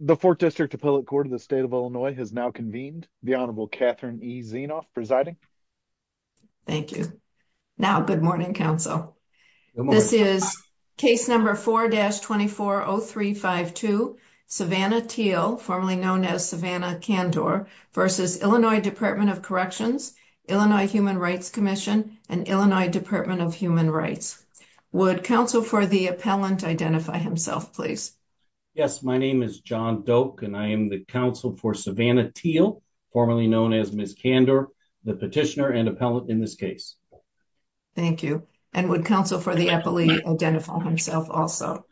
The Fourth District Appellate Court of the State of Illinois has now convened. The Honorable Catherine E. Zienoff presiding. Thank you. Now, good morning, counsel. This is case number 4-240352, Savannah Teel, formerly known as Savannah Kandor, v. Illinois Department of Corrections, Illinois Human Rights Commission, and Illinois Department of Human Rights. Would counsel for the appellant identify himself, please? Yes, my name is John Doak, and I am the counsel for Savannah Teel, formerly known as Ms. Kandor, the petitioner and appellant in this case. Thank you. And would counsel for the appellee identify himself also?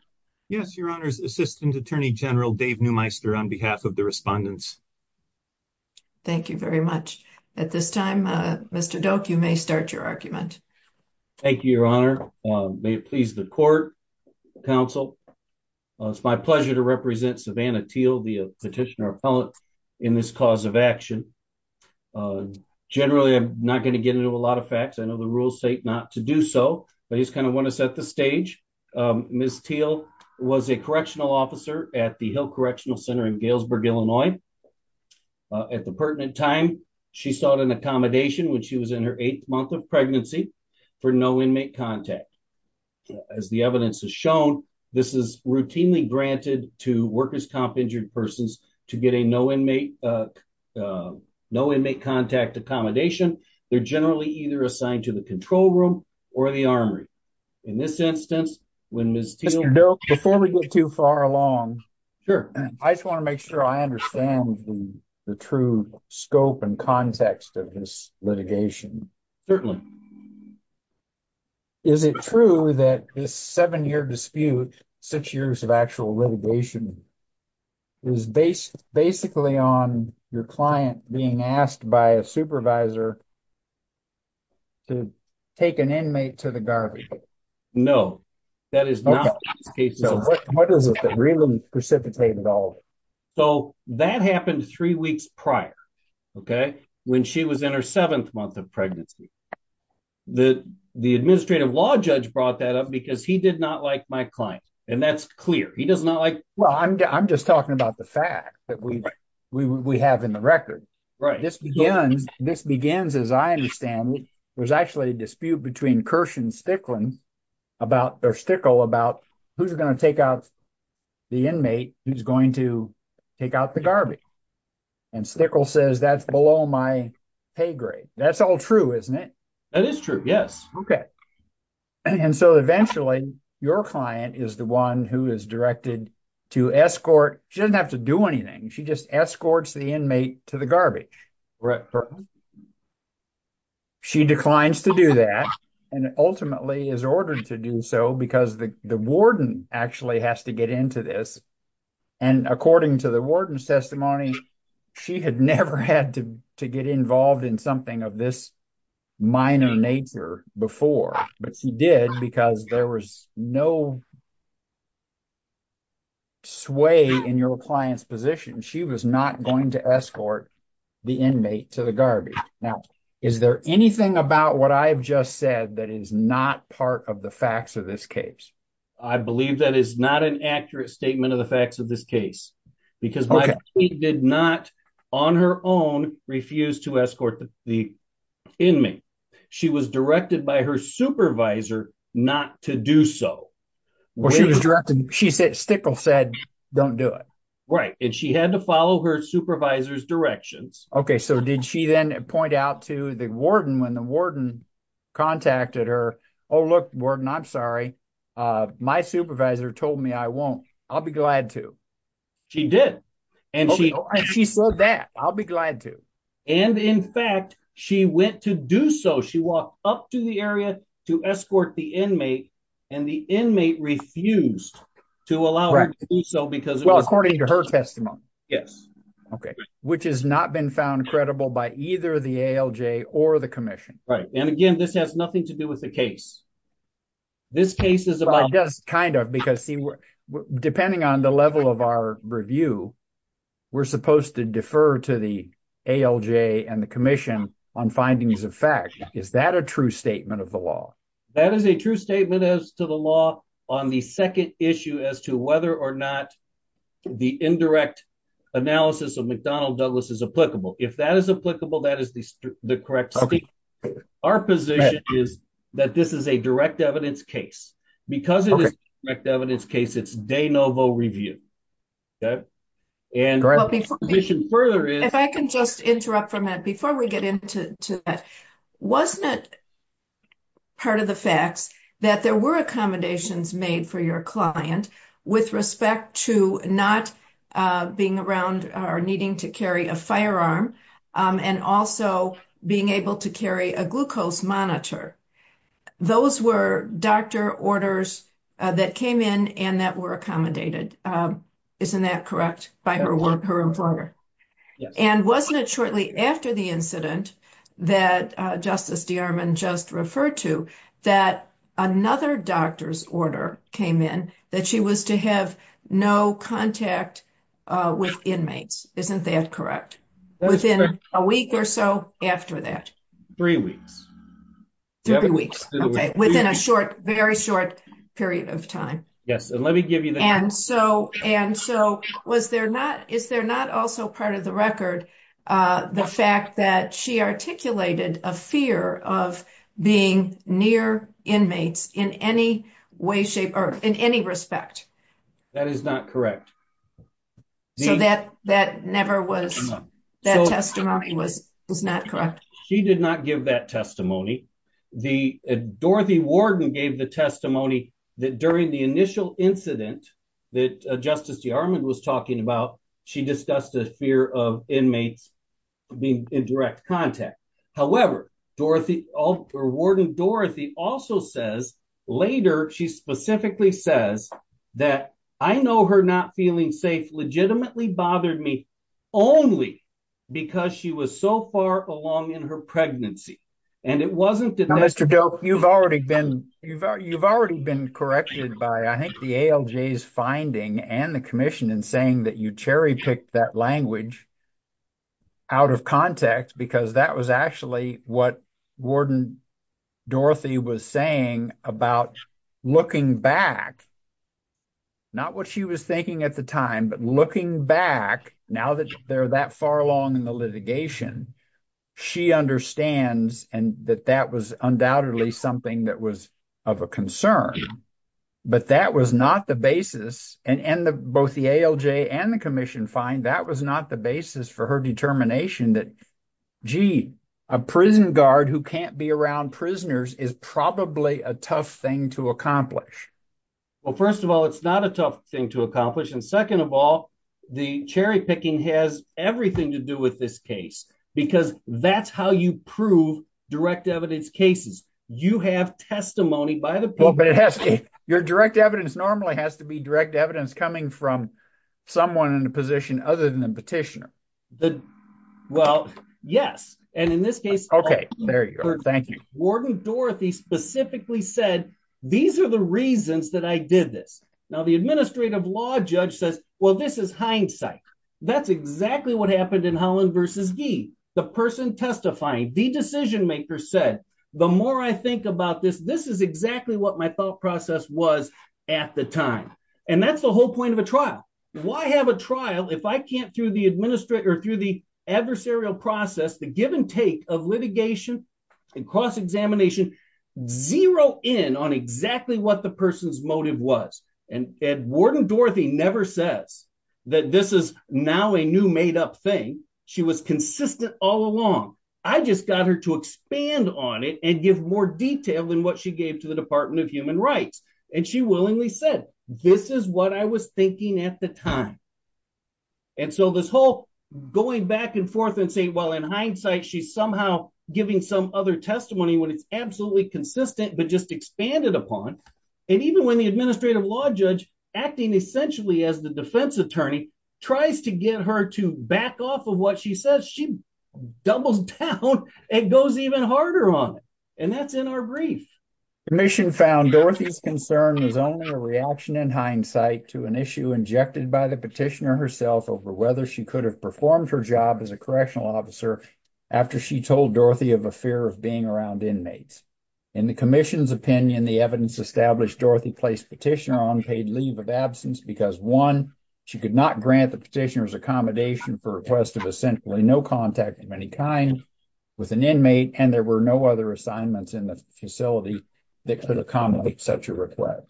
Yes, Your Honor's Assistant Attorney General Dave Neumeister on behalf of the respondents. Thank you very much. At this time, Mr. Doak, you may start your argument. Thank you, Your Honor. May it please the court, counsel. It's my pleasure to represent Savannah Teel, the petitioner appellant in this cause of action. Generally, I'm not going to get into a lot of facts. I know the rules state not to do so, but I just kind of want to set the stage. Ms. Teel was a correctional officer at the Hill Correctional Center in Galesburg, Illinois. At the pertinent time, she sought an accommodation when she was in her eighth month of pregnancy for no inmate contact. As the evidence has shown, this is routinely granted to workers' comp injured persons to get a no inmate contact accommodation. They're generally either assigned to the control room or the armory. In this instance, when Ms. Teel... Mr. Doak, before we go too far along, I just want to make sure I understand the true scope and context of this litigation. Certainly. Is it true that this seven-year dispute, six years of actual litigation, is based basically on your client being asked by a supervisor to take an inmate to the garbage? No, that is not the case. So what is it that really precipitated all of it? So that happened three weeks prior, okay, when she was in her seventh month of pregnancy. The administrative law judge brought that up because he did not like my client, and that's clear. He does not like... Well, I'm just talking about the fact that we have in the about... or Stickle about who's going to take out the inmate who's going to take out the garbage. And Stickle says that's below my pay grade. That's all true, isn't it? That is true, yes. Okay. And so eventually, your client is the one who is directed to escort... She doesn't have to do anything. She just escorts the inmate to the garbage. Right. She declines to do that, and ultimately is ordered to do so because the warden actually has to get into this. And according to the warden's testimony, she had never had to get involved in something of this minor nature before, but she did because there was no sway in your client's position. She was not going to escort the inmate to the garbage. Now, is there anything about what I've just said that is not part of the facts of this case? I believe that is not an accurate statement of the facts of this case because my client did not, on her own, refuse to escort the inmate. She was directed by her supervisor not to do so. Well, Stickle said don't do it. Right. And she had to follow her supervisor's directions. Okay. So did she then point out to the warden when the warden contacted her, oh, look, warden, I'm sorry. My supervisor told me I won't. I'll be glad to. She did. And she said that. I'll be glad to. And in fact, she went to do so. She walked up to the area to escort the inmate, and the inmate refused to allow her to do so because- Well, according to her testimony. Yes. Okay. Which has not been found credible by either the ALJ or the commission. Right. And again, this has nothing to do with the case. This case is about- It does, kind of, because, see, depending on the level of our review, we're supposed to defer to ALJ and the commission on findings of fact. Is that a true statement of the law? That is a true statement as to the law on the second issue as to whether or not the indirect analysis of McDonnell Douglas is applicable. If that is applicable, that is the correct statement. Our position is that this is a direct evidence case. Because it is a direct evidence case. Before we get into that, wasn't it part of the facts that there were accommodations made for your client with respect to not being around or needing to carry a firearm and also being able to carry a glucose monitor? Those were doctor orders that came in and that accommodated, isn't that correct, by her employer? Yes. And wasn't it shortly after the incident that Justice DeArmond just referred to that another doctor's order came in that she was to have no contact with inmates? Isn't that correct? Within a week or so after that. Three weeks. Three weeks. Okay. Within a short, very short period of time. Yes. And let me give you the... And so, is there not also part of the record the fact that she articulated a fear of being near inmates in any way, shape, or in any respect? That is not correct. So that testimony was not correct? She did not give that testimony. Dorothy Warden gave the testimony that during the initial incident that Justice DeArmond was talking about, she discussed a fear of inmates being in direct contact. However, Dorothy, Warden Dorothy also says later, she specifically says that, I know her not feeling safe legitimately bothered me only because she was so far along in her pregnancy. And it wasn't that... You've already been corrected by, I think, the ALJ's finding and the commission in saying that you cherry picked that language out of context because that was actually what Warden Dorothy was saying about looking back, not what she was thinking at the time, but looking back now that they're that far along in the litigation, she understands and that that was undoubtedly something that was of a concern. But that was not the basis and both the ALJ and the commission find that was not the basis for her determination that, gee, a prison guard who can't be around prisoners is probably a tough thing to accomplish. Well, first of all, it's not a tough thing to accomplish. And second of all, the cherry picking has everything to do with this case because that's how you prove direct evidence cases. You have testimony by the people. Well, but it has to, your direct evidence normally has to be direct evidence coming from someone in a position other than the petitioner. Well, yes. And in this case... Okay, there you are. Thank you. Warden Dorothy specifically said, these are the reasons that I did this. Now, the administrative law judge says, well, this is hindsight. That's exactly what happened in Holland versus Gee. The person testifying, the decision maker said, the more I think about this, this is exactly what my thought process was at the time. And that's the whole point of a trial. Why have a trial if I can't through the adversarial process, the give and take of litigation and cross-examination, zero in on exactly what the person's motive was. And Warden Dorothy never says that this is now a new made up thing. She was consistent all along. I just got her to expand on it and give more detail than what she gave to the Department of Human Rights. And she willingly said, this is what I was thinking at the time. And so this whole going back and forth and say, well, in hindsight, she's somehow giving some other testimony when it's absolutely consistent, but just expanded upon. And even when the administrative law judge acting essentially as the defense attorney tries to get her to back off of what she says, she doubles down and goes even harder on it. And that's in our brief. Commission found Dorothy's concern was only a reaction in hindsight to an issue injected by the petitioner herself over whether she could have performed her job as a correctional officer after she told Dorothy of a fear of being around inmates. In the commission's opinion, the evidence established Dorothy placed petitioner on paid leave of absence because one, she could not grant the petitioner's accommodation for a request of essentially no contact of any kind with an inmate. And there were no other assignments in the facility that could accommodate such a request.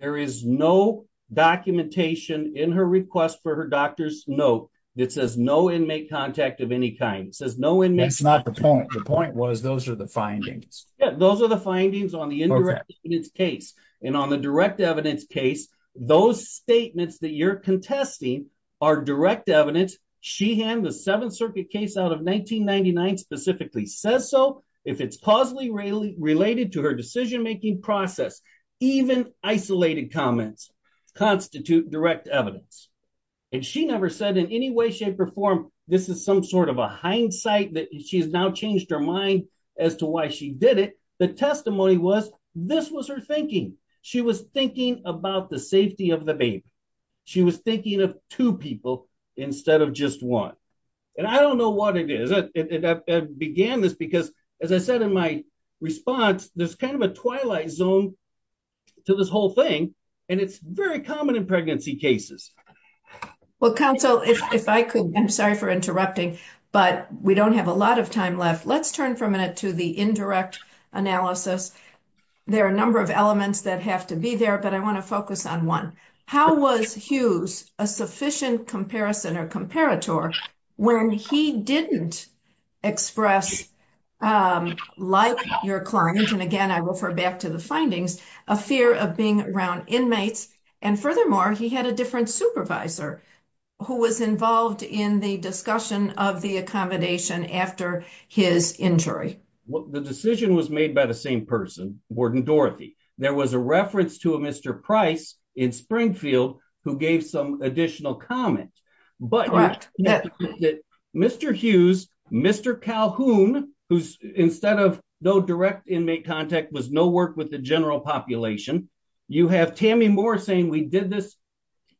There is no documentation in her request for her doctor's note that says no inmate contact of any kind. It says no inmates. That's not the point. The point was, those are the findings. Yeah, those are the findings on the indirect evidence case. And on the direct evidence case, those statements that you're contesting are direct evidence. She had the Seventh Circuit case out of 1999 specifically says so. If it's positively related to her decision-making process, even isolated comments constitute direct evidence. And she never said in any way, perform, this is some sort of a hindsight that she's now changed her mind as to why she did it. The testimony was, this was her thinking. She was thinking about the safety of the baby. She was thinking of two people instead of just one. And I don't know what it is that began this, because as I said in my response, there's kind of a twilight zone to this whole thing. And it's very common in pregnancy cases. Well, counsel, if I could, I'm sorry for interrupting, but we don't have a lot of time left. Let's turn for a minute to the indirect analysis. There are a number of elements that have to be there, but I want to focus on one. How was Hughes a sufficient comparison or comparator when he didn't express like your client, and again, I will refer back to the findings, a fear of being around inmates. And furthermore, he had a different supervisor who was involved in the discussion of the accommodation after his injury. Well, the decision was made by the same person, Warden Dorothy. There was a reference to a Mr. Price in Springfield who gave some additional comment, but Mr. Hughes, Mr. Calhoun, who's instead of no direct inmate contact was no work with the general population. You have Tammy Moore saying we did this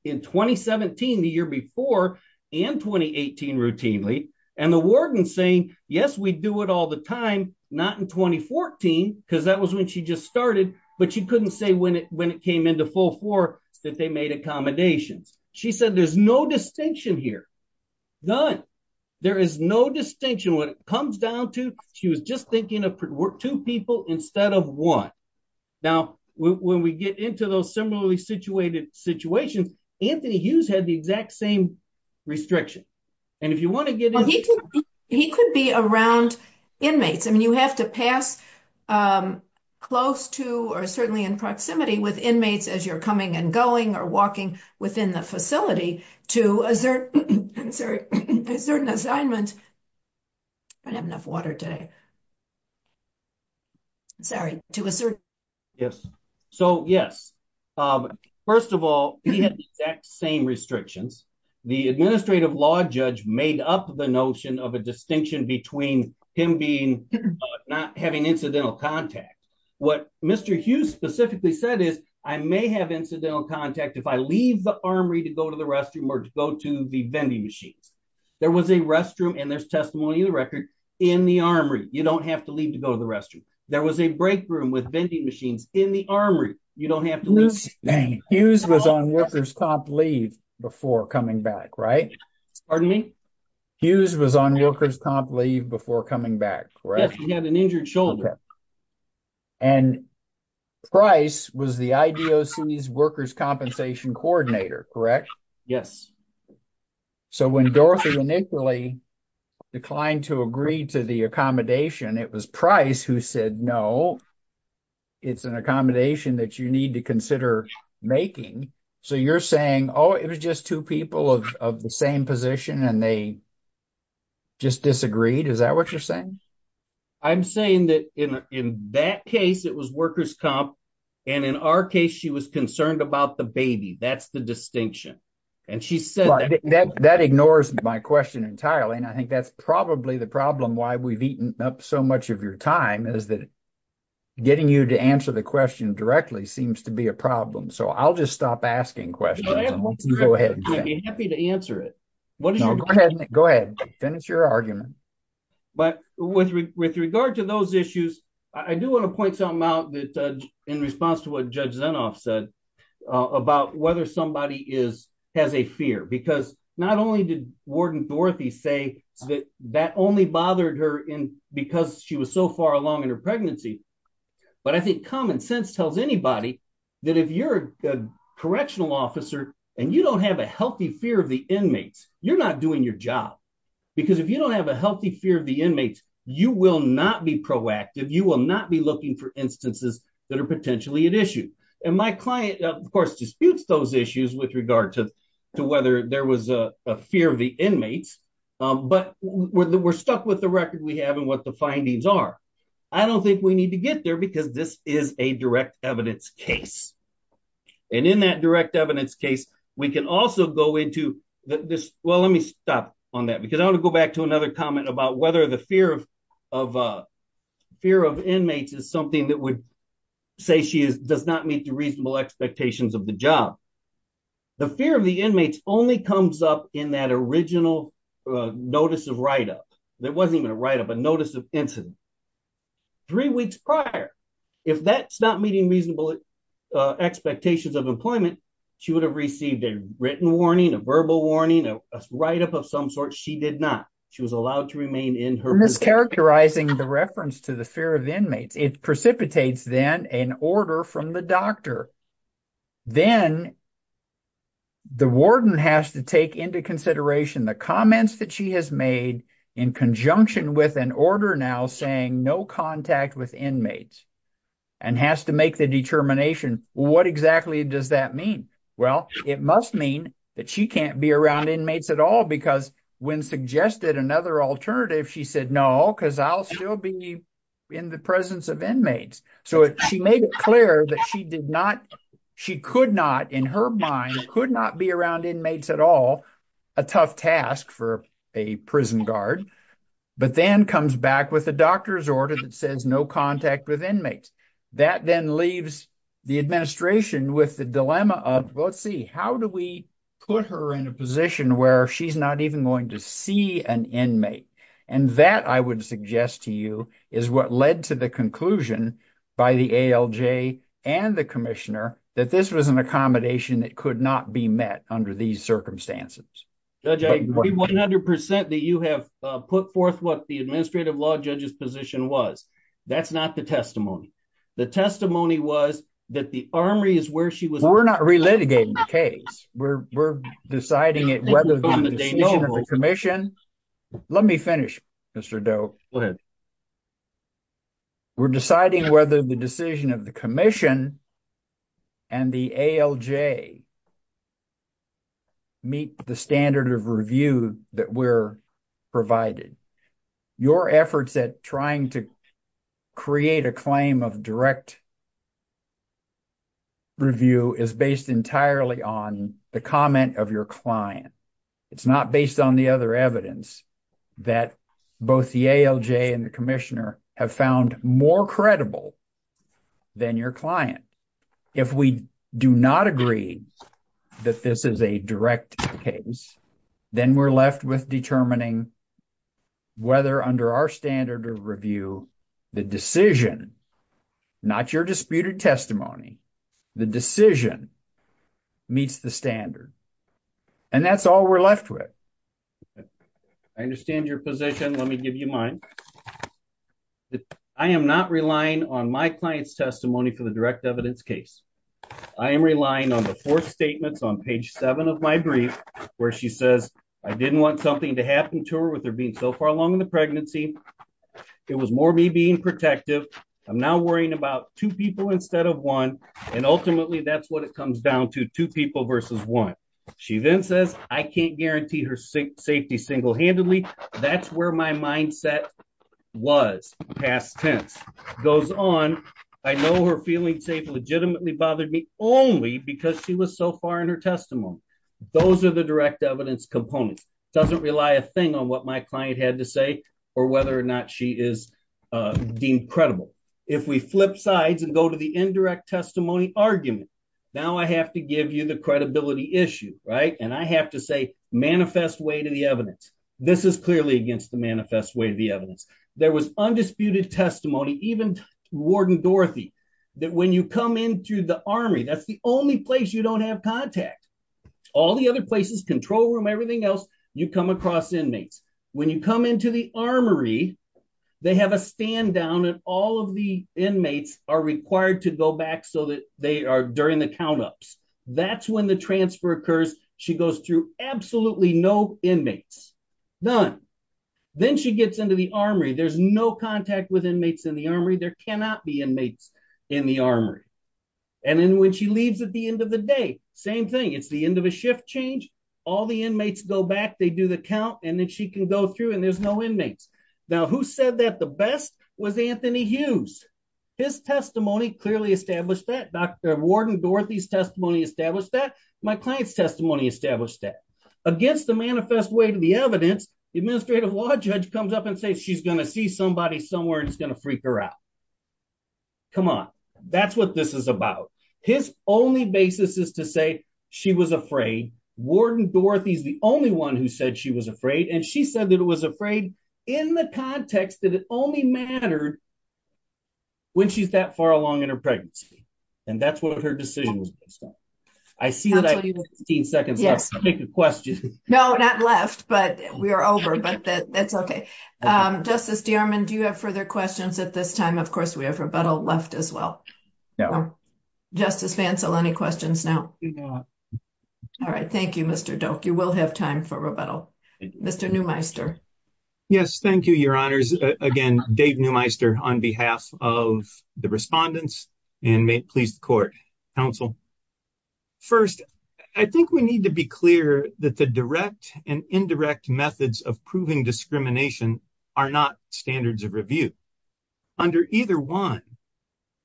in 2017, the year before, and 2018 routinely. And the warden saying, yes, we do it all the time, not in 2014, because that was when she just started, but she couldn't say when it came into full force that they made accommodations. She said, there's no distinction here. None. There is no distinction. What it comes down to, she was just thinking of two people instead of one. Now, when we get into those similarly situated situations, Anthony Hughes had the exact same restriction. And if you want to get into it. He could be around inmates. I mean, you have to pass close to, or certainly in proximity with inmates as you're coming and going or walking within the facility to a certain assignment. I don't have enough water today. Sorry to assert. Yes. So, yes. First of all, he had the exact same restrictions. The administrative law judge made up the notion of a distinction between him being not having incidental contact. What Mr. Hughes specifically said is I may have incidental contact if I leave the armory to go to the restroom or to go to the vending machines. There was a restroom and there's testimony of the record in the armory. You don't have to leave to go to the restroom. There was a break room with vending machines in the armory. You don't have to leave. Hughes was on workers' comp leave before coming back, right? Pardon me? Hughes was on workers' comp leave before coming back, correct? Yes, he had an injured shoulder. And Price was the IDOC's workers' compensation coordinator, correct? Yes. So, when Dorothy initially declined to agree to the accommodation, it was Price who said, no, it's an accommodation that you need to consider making. So, you're saying, oh, it was just two people of the same position and they just disagreed? Is that what you're saying? I'm saying that in that case, it was workers' comp. And in our case, she was concerned about the baby. That's the distinction. That ignores my question entirely. And I think that's probably the problem why we've eaten up so much of your time is that getting you to answer the question directly seems to be a problem. So, I'll just stop asking questions. I'm happy to answer it. Go ahead, finish your argument. But with regard to those issues, I do want to point something out in response to what Judge Zenoff said about whether somebody has a fear. Because not only did Warden Dorothy say that that only bothered her because she was so far along in her pregnancy, but I think common sense tells anybody that if you're a correctional officer and you don't have a healthy fear of the inmates, you're not doing your job. Because if you don't have a healthy fear of the inmates, you will not be proactive. You will not be looking for instances that are potentially an issue. And my client, of course, disputes those issues with regard to whether there was a fear of the inmates. But we're stuck with the record we have and what the findings are. I don't think we need to get there because this is a direct evidence case. And in that direct evidence case, we can also go into this. Well, let me stop on that because I want to go back to comment about whether the fear of inmates is something that would say she does not meet the reasonable expectations of the job. The fear of the inmates only comes up in that original notice of write-up. It wasn't even a write-up, a notice of incident. Three weeks prior, if that's not meeting reasonable expectations of employment, she would have received a written warning, a verbal warning, a write-up of some sort. She did not. She was allowed to remain in her position. I'm mischaracterizing the reference to the fear of inmates. It precipitates, then, an order from the doctor. Then the warden has to take into consideration the comments that she has made in conjunction with an order now saying no contact with inmates and has to make the determination. Well, what exactly does that mean? Well, it must mean that she can't be around inmates at all because when suggested another alternative, she said, no, because I'll still be in the presence of inmates. So she made it clear that she could not, in her mind, could not be around inmates at all, a tough task for a prison guard, but then comes back with a doctor's order that says no contact with inmates. That then leaves the administration with the dilemma of, well, let's see, how do we put her in a position where she's not even going to see an inmate? And that, I would suggest to you, is what led to the conclusion by the ALJ and the commissioner that this was an accommodation that could not be met under these circumstances. Judge, I agree 100% that you have put forth what the administrative law judge's position was. That's not the testimony. The testimony was that the armory is where she was. We're not relitigating the case. We're deciding it whether the commission, let me finish Mr. Doe. Go ahead. We're deciding whether the decision of the commission and the ALJ meet the standard of review that we're provided. Your efforts at trying to create a claim of direct review is based entirely on the comment of your client. It's not based on the other evidence that both the ALJ and the commissioner have found more credible than your client. If we do not agree that this is a direct case, then we're left with determining whether under our standard of review the decision, not your disputed testimony, the decision meets the standard. And that's all we're left with. I understand your position. Let me give you mine. I am not relying on my client's testimony for the direct evidence case. I am relying on the four statements on page seven of my brief where she says, I didn't want something to happen to her with her being so far along in the pregnancy. It was more me being protective. I'm now worrying about two people instead of one. And ultimately that's what it comes down to, two people versus one. She then says I can't guarantee her safety single-handedly. That's where my mindset was past tense. Goes on, I know her feeling safe legitimately bothered me only because she was so far in her testimony. Those are the direct evidence components. It doesn't rely a thing on what my client had to say or whether or not she is deemed credible. If we flip sides and go the indirect testimony argument, now I have to give you the credibility issue. And I have to say manifest way to the evidence. This is clearly against the manifest way of the evidence. There was undisputed testimony, even warden Dorothy, that when you come into the armory, that's the only place you don't have contact. All the other places, control room, everything else, you come across inmates. When you come into the armory, they have a stand down and all of the inmates are required to go back so that they are during the count-ups. That's when the transfer occurs. She goes through absolutely no inmates, none. Then she gets into the armory. There's no contact with inmates in the armory. There cannot be inmates in the armory. And then when she leaves at the end of the day, same thing. It's the end of a shift change. All the inmates go back. They do the count and then she can go through and there's no inmates. Now who said that the best was Anthony Hughes? His testimony clearly established that. Dr. Warden Dorothy's testimony established that. My client's testimony established that. Against the manifest way to the evidence, the administrative law judge comes up and says she's going to see somebody somewhere and it's going to freak her out. Come on. That's what this is about. His only basis is to say she was afraid. Warden Dorothy's the only one who said she was afraid. And she said that it was afraid in the context that it only mattered when she's that far along in her pregnancy. And that's what her decision was based on. I see that I have 15 seconds left to make a question. No, not left, but we are over. But that's okay. Justice Dierman, do you have further questions at this time? Of course, we have rebuttal left as well. Justice Fancel, any questions now? No. All right. Thank you, Mr. Doak. You will have time for rebuttal. Mr. Neumeister. Yes. Thank you, your honors. Again, Dave Neumeister on behalf of the respondents and may it please the court, counsel. First, I think we need to be clear that the direct and indirect methods of proving discrimination are not standards of review. Under either one,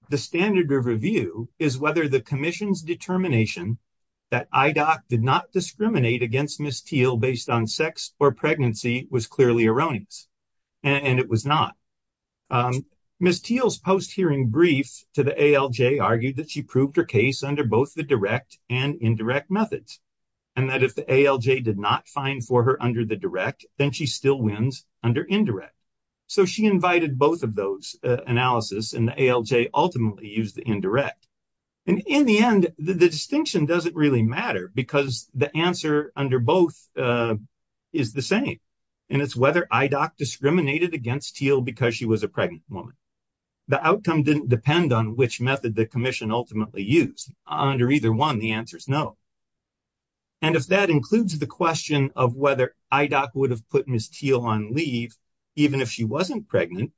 the standard of review is whether the commission's determination that IDOC did not discriminate against Ms. Teel based on sex or pregnancy was clearly erroneous. And it was not. Ms. Teel's post-hearing brief to the ALJ argued that she proved her case under both the direct and indirect methods. And that if the ALJ did not find for her under the direct, then she still wins under indirect. So she invited both of those analysis and the ALJ ultimately used the indirect. And in the end, the distinction doesn't really matter because the answer under both is the same. And it's whether IDOC discriminated against Teel because she was a pregnant woman. The outcome didn't depend on which method the commission ultimately used. Under either one, the answer is no. And if that includes the question of whether IDOC would have put Ms. Teel on leave, even if she wasn't pregnant,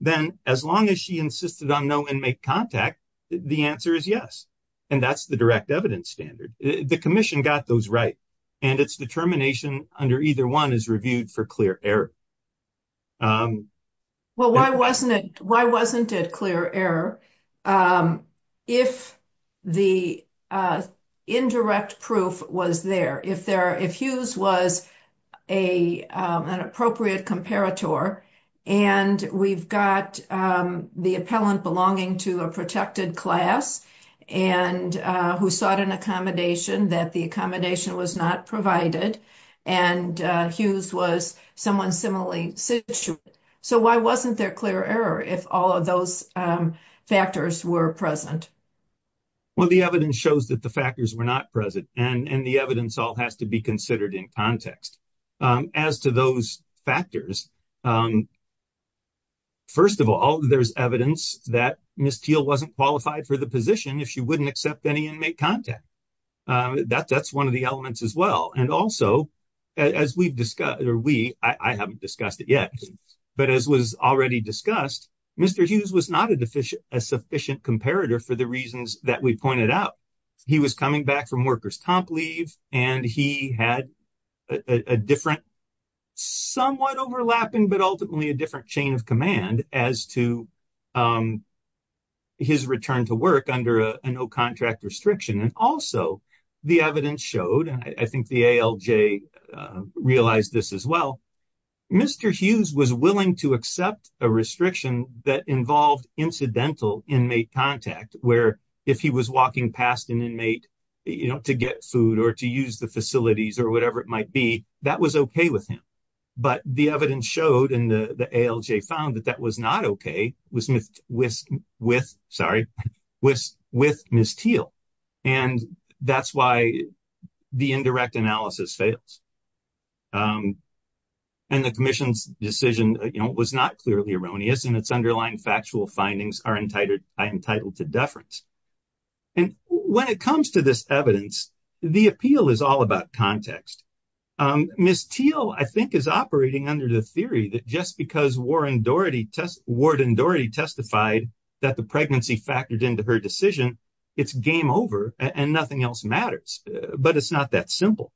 then as long as she insisted on no inmate contact, the answer is yes. And that's the direct evidence standard. The commission got those right. And it's determination under either one is reviewed for clear error. Well, why wasn't it clear error if the indirect proof was there? If Hughes was an appropriate comparator, and we've got the appellant belonging to a protected class who sought an accommodation that the accommodation was not provided, and Hughes was someone similarly situated. So why wasn't there clear error if all of those factors were present? Well, the evidence shows that the factors were not present. And the evidence all has to be considered in context. As to those factors, first of all, there's evidence that Ms. Teel wasn't qualified for the position if she wouldn't accept any inmate contact. That's one of the elements as well. And also, as we've discussed, or we, I haven't discussed it yet, but as was already discussed, Mr. Hughes was not a sufficient comparator for the reasons that we pointed out. He was coming back from workers' comp leave, and he had a different, somewhat overlapping, but ultimately a different chain of command as to his return to work under a no-contract restriction. And also, the evidence showed, and I think the ALJ realized this as well, Mr. Hughes was willing to accept a restriction that involved incidental inmate contact, where if he was walking past an inmate, you know, to get food or to use the facilities or whatever it might be, that was okay with him. But the evidence showed, and the ALJ found, that that was not okay with Ms. Teel. And that's why the indirect analysis fails. And the commission's decision, you know, was not clearly erroneous, and its underlying factual findings are entitled to deference. And when it comes to this evidence, the appeal is all about context. Ms. Teel, I think, is operating under the theory that just because Warden Doherty testified that the pregnancy factored into her decision, it's game over and nothing else matters. But it's not that simple.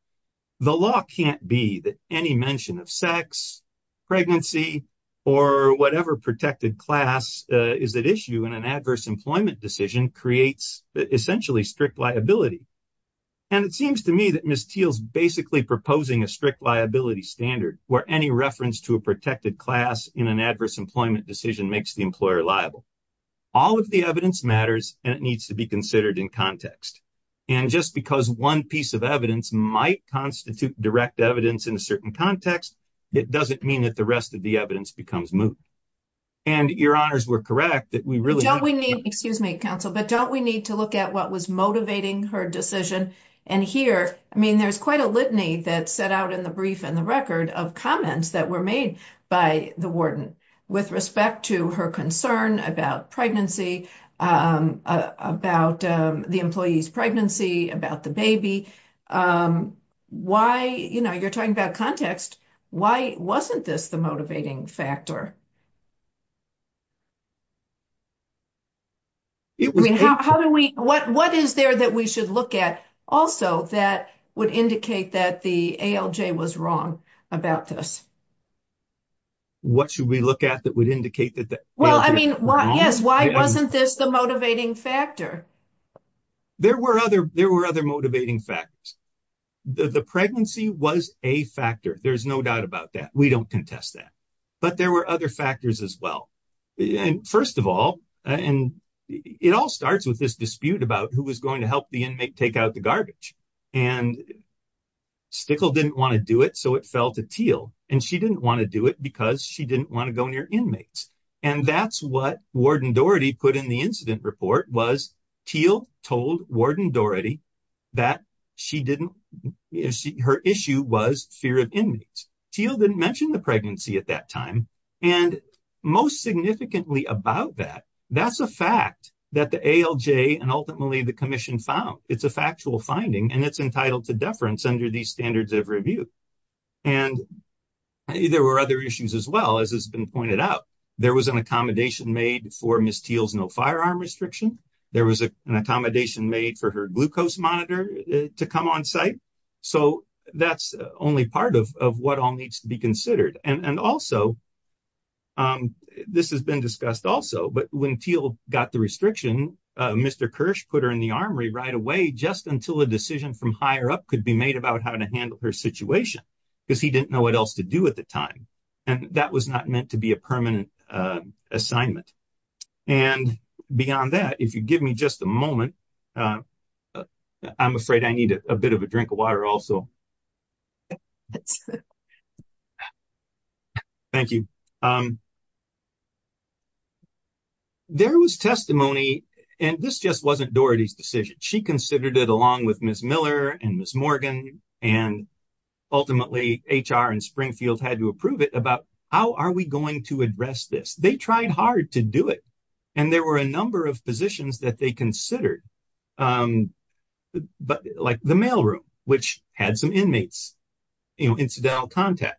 The law can't be that any mention of sex, pregnancy, or whatever protected class is at issue in an adverse employment decision creates essentially strict liability. And it seems to me that Ms. Teel's basically proposing a strict liability standard where any reference to a protected class in an adverse employment decision makes the employer liable. All of the it needs to be considered in context. And just because one piece of evidence might constitute direct evidence in a certain context, it doesn't mean that the rest of the evidence becomes moot. And your honors were correct that we really... Don't we need, excuse me, counsel, but don't we need to look at what was motivating her decision? And here, I mean, there's quite a litany that's set out in the brief and the record of comments that were made by the warden with respect to her concern about pregnancy, about the employee's pregnancy, about the baby. Why, you know, you're talking about context. Why wasn't this the motivating factor? How do we, what is there that we should look at also that would indicate that the ALJ was wrong about this? What should we look at that would indicate that the ALJ was wrong? Well, I mean, yes. Why wasn't this the motivating factor? There were other motivating factors. The pregnancy was a factor. There's no doubt about that. We don't contest that. But there were other factors as well. And first of all, and it all starts with this dispute about who was going to help the take out the garbage. And Stickle didn't want to do it, so it fell to Teal. And she didn't want to do it because she didn't want to go near inmates. And that's what Warden Doherty put in the incident report was Teal told Warden Doherty that she didn't... Her issue was fear of inmates. Teal didn't mention the pregnancy at that time. And most significantly about that, that's a fact that the ALJ and ultimately the commission found. It's a factual finding and it's entitled to deference under these standards of review. And there were other issues as well, as has been pointed out. There was an accommodation made for Ms. Teal's no firearm restriction. There was an accommodation made for her glucose monitor to come on site. So that's only part of what all needs to be considered. And also, this has been discussed also, but when Teal got the restriction, Mr. Kirsch put her in the armory right away just until a decision from higher up could be made about how to handle her situation because he didn't know what else to do at the time. And that was not meant to be a permanent assignment. And beyond that, if you give me just a moment, I'm afraid I need a bit of a drink of water also. Thank you. There was testimony, and this just wasn't Doherty's decision. She considered it along with Ms. Miller and Ms. Morgan, and ultimately HR and Springfield had to approve it about how are we going to address this? They tried hard to do it. And there were a number of positions that they considered, like the mailroom, which had some inmates, you know, incidental contact.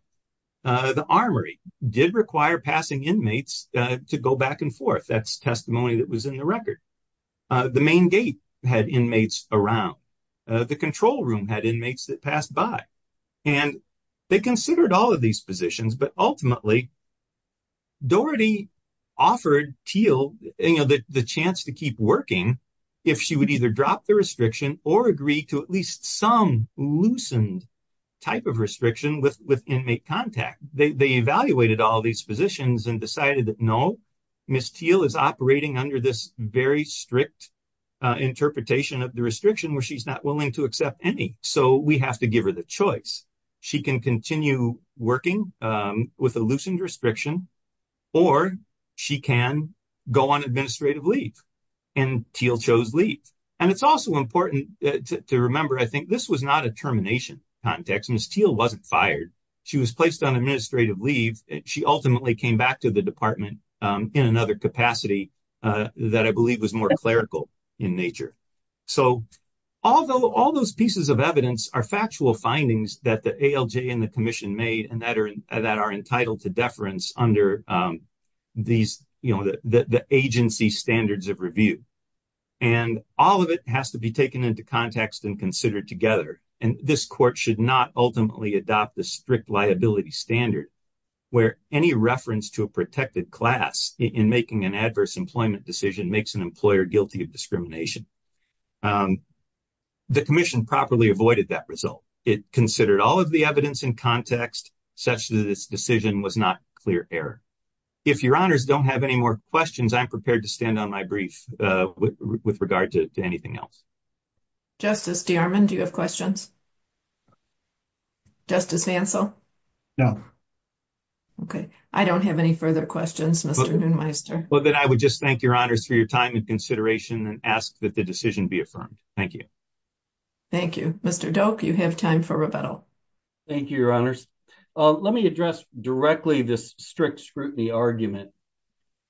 The armory did require passing inmates to go back and forth. That's testimony that was in the record. The main gate had inmates around. The control room had inmates that passed by. And they considered all of these positions. But ultimately, Doherty offered Teal the chance to keep working if she would either drop the restriction or agree to at least some loosened type of restriction with inmate contact. They evaluated all these positions and decided that no, Ms. Teal is operating under this very strict interpretation of the restriction where she's not willing to accept any. So, we have to with a loosened restriction, or she can go on administrative leave. And Teal chose leave. And it's also important to remember, I think, this was not a termination context. Ms. Teal wasn't fired. She was placed on administrative leave. She ultimately came back to the department in another capacity that I believe was more clerical in nature. So, all those pieces of are factual findings that the ALJ and the commission made and that are entitled to deference under the agency standards of review. And all of it has to be taken into context and considered together. And this court should not ultimately adopt the strict liability standard where any reference to a protected class in making an adverse employment decision makes an employer guilty of discrimination. The commission properly avoided that result. It considered all of the evidence in context, such that this decision was not clear error. If your honors don't have any more questions, I'm prepared to stand on my brief with regard to anything else. Justice DeArmond, do you have questions? Justice Hansel? No. Okay. I don't have any further questions, Mr. Neumeister. Well, I would just thank your honors for your time and consideration and ask that the decision be affirmed. Thank you. Thank you. Mr. Doak, you have time for rebuttal. Thank you, your honors. Let me address directly this strict scrutiny argument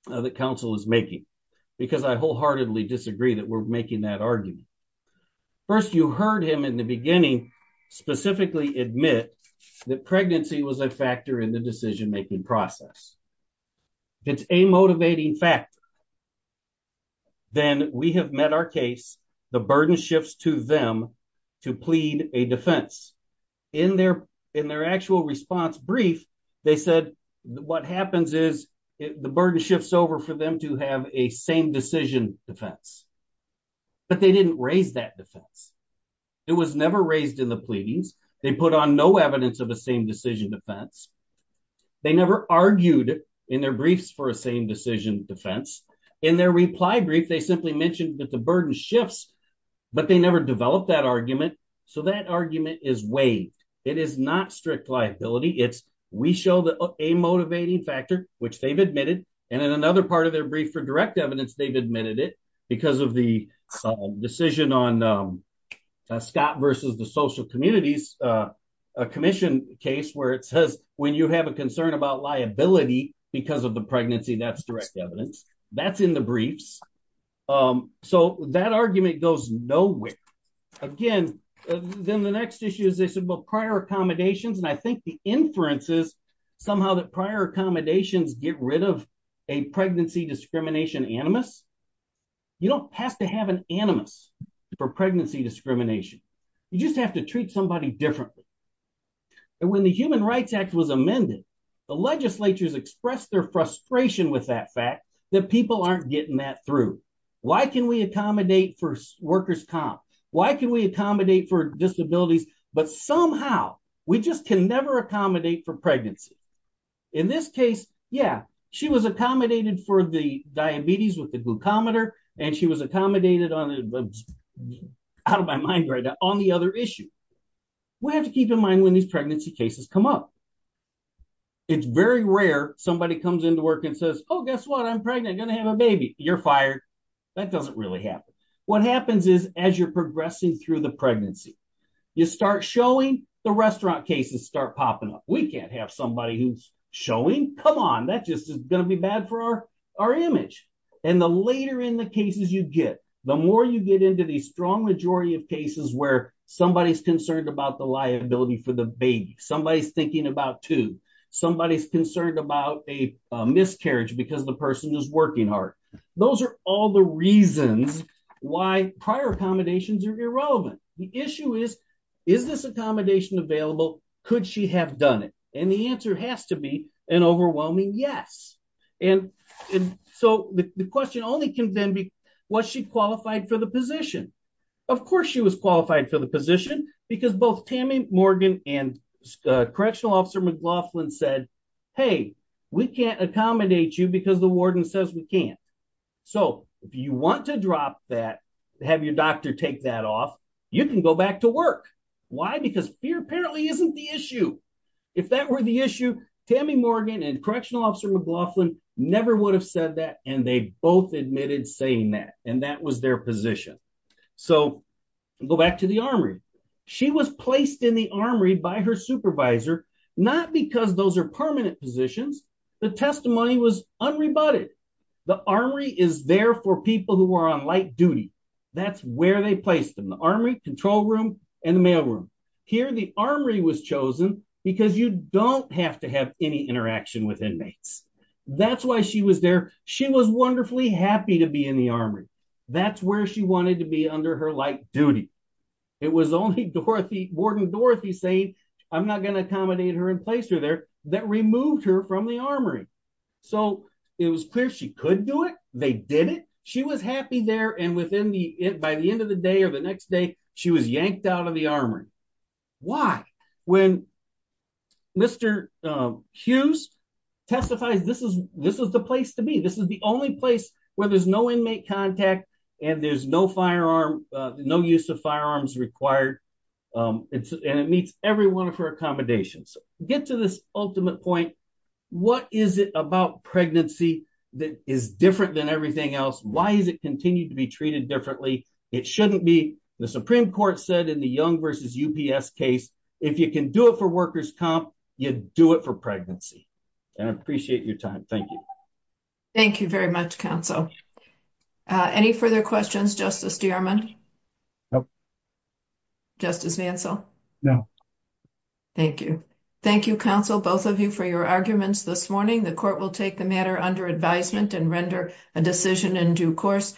that counsel is making because I wholeheartedly disagree that we're making that argument. First, you heard him in the beginning specifically admit that pregnancy was a factor in the crime. Then we have met our case, the burden shifts to them to plead a defense. In their actual response brief, they said what happens is the burden shifts over for them to have a same decision defense, but they didn't raise that defense. It was never raised in the pleadings. They put on no evidence of a same decision defense. They never argued in their briefs a same decision defense. In their reply brief, they simply mentioned that the burden shifts, but they never developed that argument. That argument is waived. It is not strict liability. It's we show a motivating factor, which they've admitted. In another part of their brief for direct evidence, they've admitted it because of the decision on Scott versus the social communities, a commission case where it says when you have a concern about liability because of the pregnancy, that's direct evidence. That's in the briefs. That argument goes nowhere. Again, then the next issue is this about prior accommodations. I think the inference is somehow that prior accommodations get rid of a pregnancy discrimination animus. You don't have to have an animus for pregnancy discrimination. You just have to treat somebody differently. When the Human Rights Act was amended, the legislatures expressed their frustration with that fact that people aren't getting that through. Why can we accommodate for workers' comp? Why can we accommodate for disabilities? Somehow, we just can never accommodate for pregnancy. In this case, yeah, she was accommodated for the diabetes with the have to keep in mind when these pregnancy cases come up. It's very rare somebody comes into work and says, oh, guess what? I'm pregnant. I'm going to have a baby. You're fired. That doesn't really happen. What happens is as you're progressing through the pregnancy, you start showing the restaurant cases start popping up. We can't have somebody who's showing. Come on. That just is going to be bad for our image. The later in the cases you get, the more you get into these strong majority of cases where somebody's concerned about the liability for the baby. Somebody's thinking about two. Somebody's concerned about a miscarriage because the person is working hard. Those are all the reasons why prior accommodations are irrelevant. The issue is, is this accommodation available? Could she have done it? The answer has to be an overwhelming yes. The question only can then be, was she qualified for the position? Of course, she was qualified for the position because both Tammy Morgan and Correctional Officer McLaughlin said, hey, we can't accommodate you because the warden says we can't. If you want to drop that, have your doctor take that off, you can go back to work. Why? Because fear apparently isn't the issue. If that were the issue, Tammy Morgan and Correctional Officer McLaughlin never would have said that, and they both admitted saying that, and that was their position. Go back to the armory. She was placed in the armory by her supervisor, not because those are permanent positions. The testimony was unrebutted. The armory is there for people who are on light duty. That's where they placed them, the armory, control room, and the mail room. Here, the armory was chosen because you don't have to have any interaction with inmates. That's why she was there. She was wonderfully happy to be in the armory. That's where she wanted to be under her light duty. It was only Dorothy, Warden Dorothy saying, I'm not going to accommodate her and place her there, that removed her from the armory. So, it was clear she could do it. They did it. She was there, and by the end of the day or the next day, she was yanked out of the armory. Why? When Mr. Hughes testifies, this is the place to be. This is the only place where there's no inmate contact, and there's no use of firearms required, and it meets every one of her accommodations. Get to this ultimate point. What is it about pregnancy that is different than everything else? Why is it continued to be treated differently? It shouldn't be. The Supreme Court said in the Young v. UPS case, if you can do it for workers' comp, you do it for pregnancy, and I appreciate your time. Thank you. Thank you very much, Counsel. Any further questions, Justice DeArmond? Nope. Justice Mansell? No. Thank you. Thank you, Counsel, both of you, for your arguments this morning. The court will take the matter under advisement and render a decision in due course.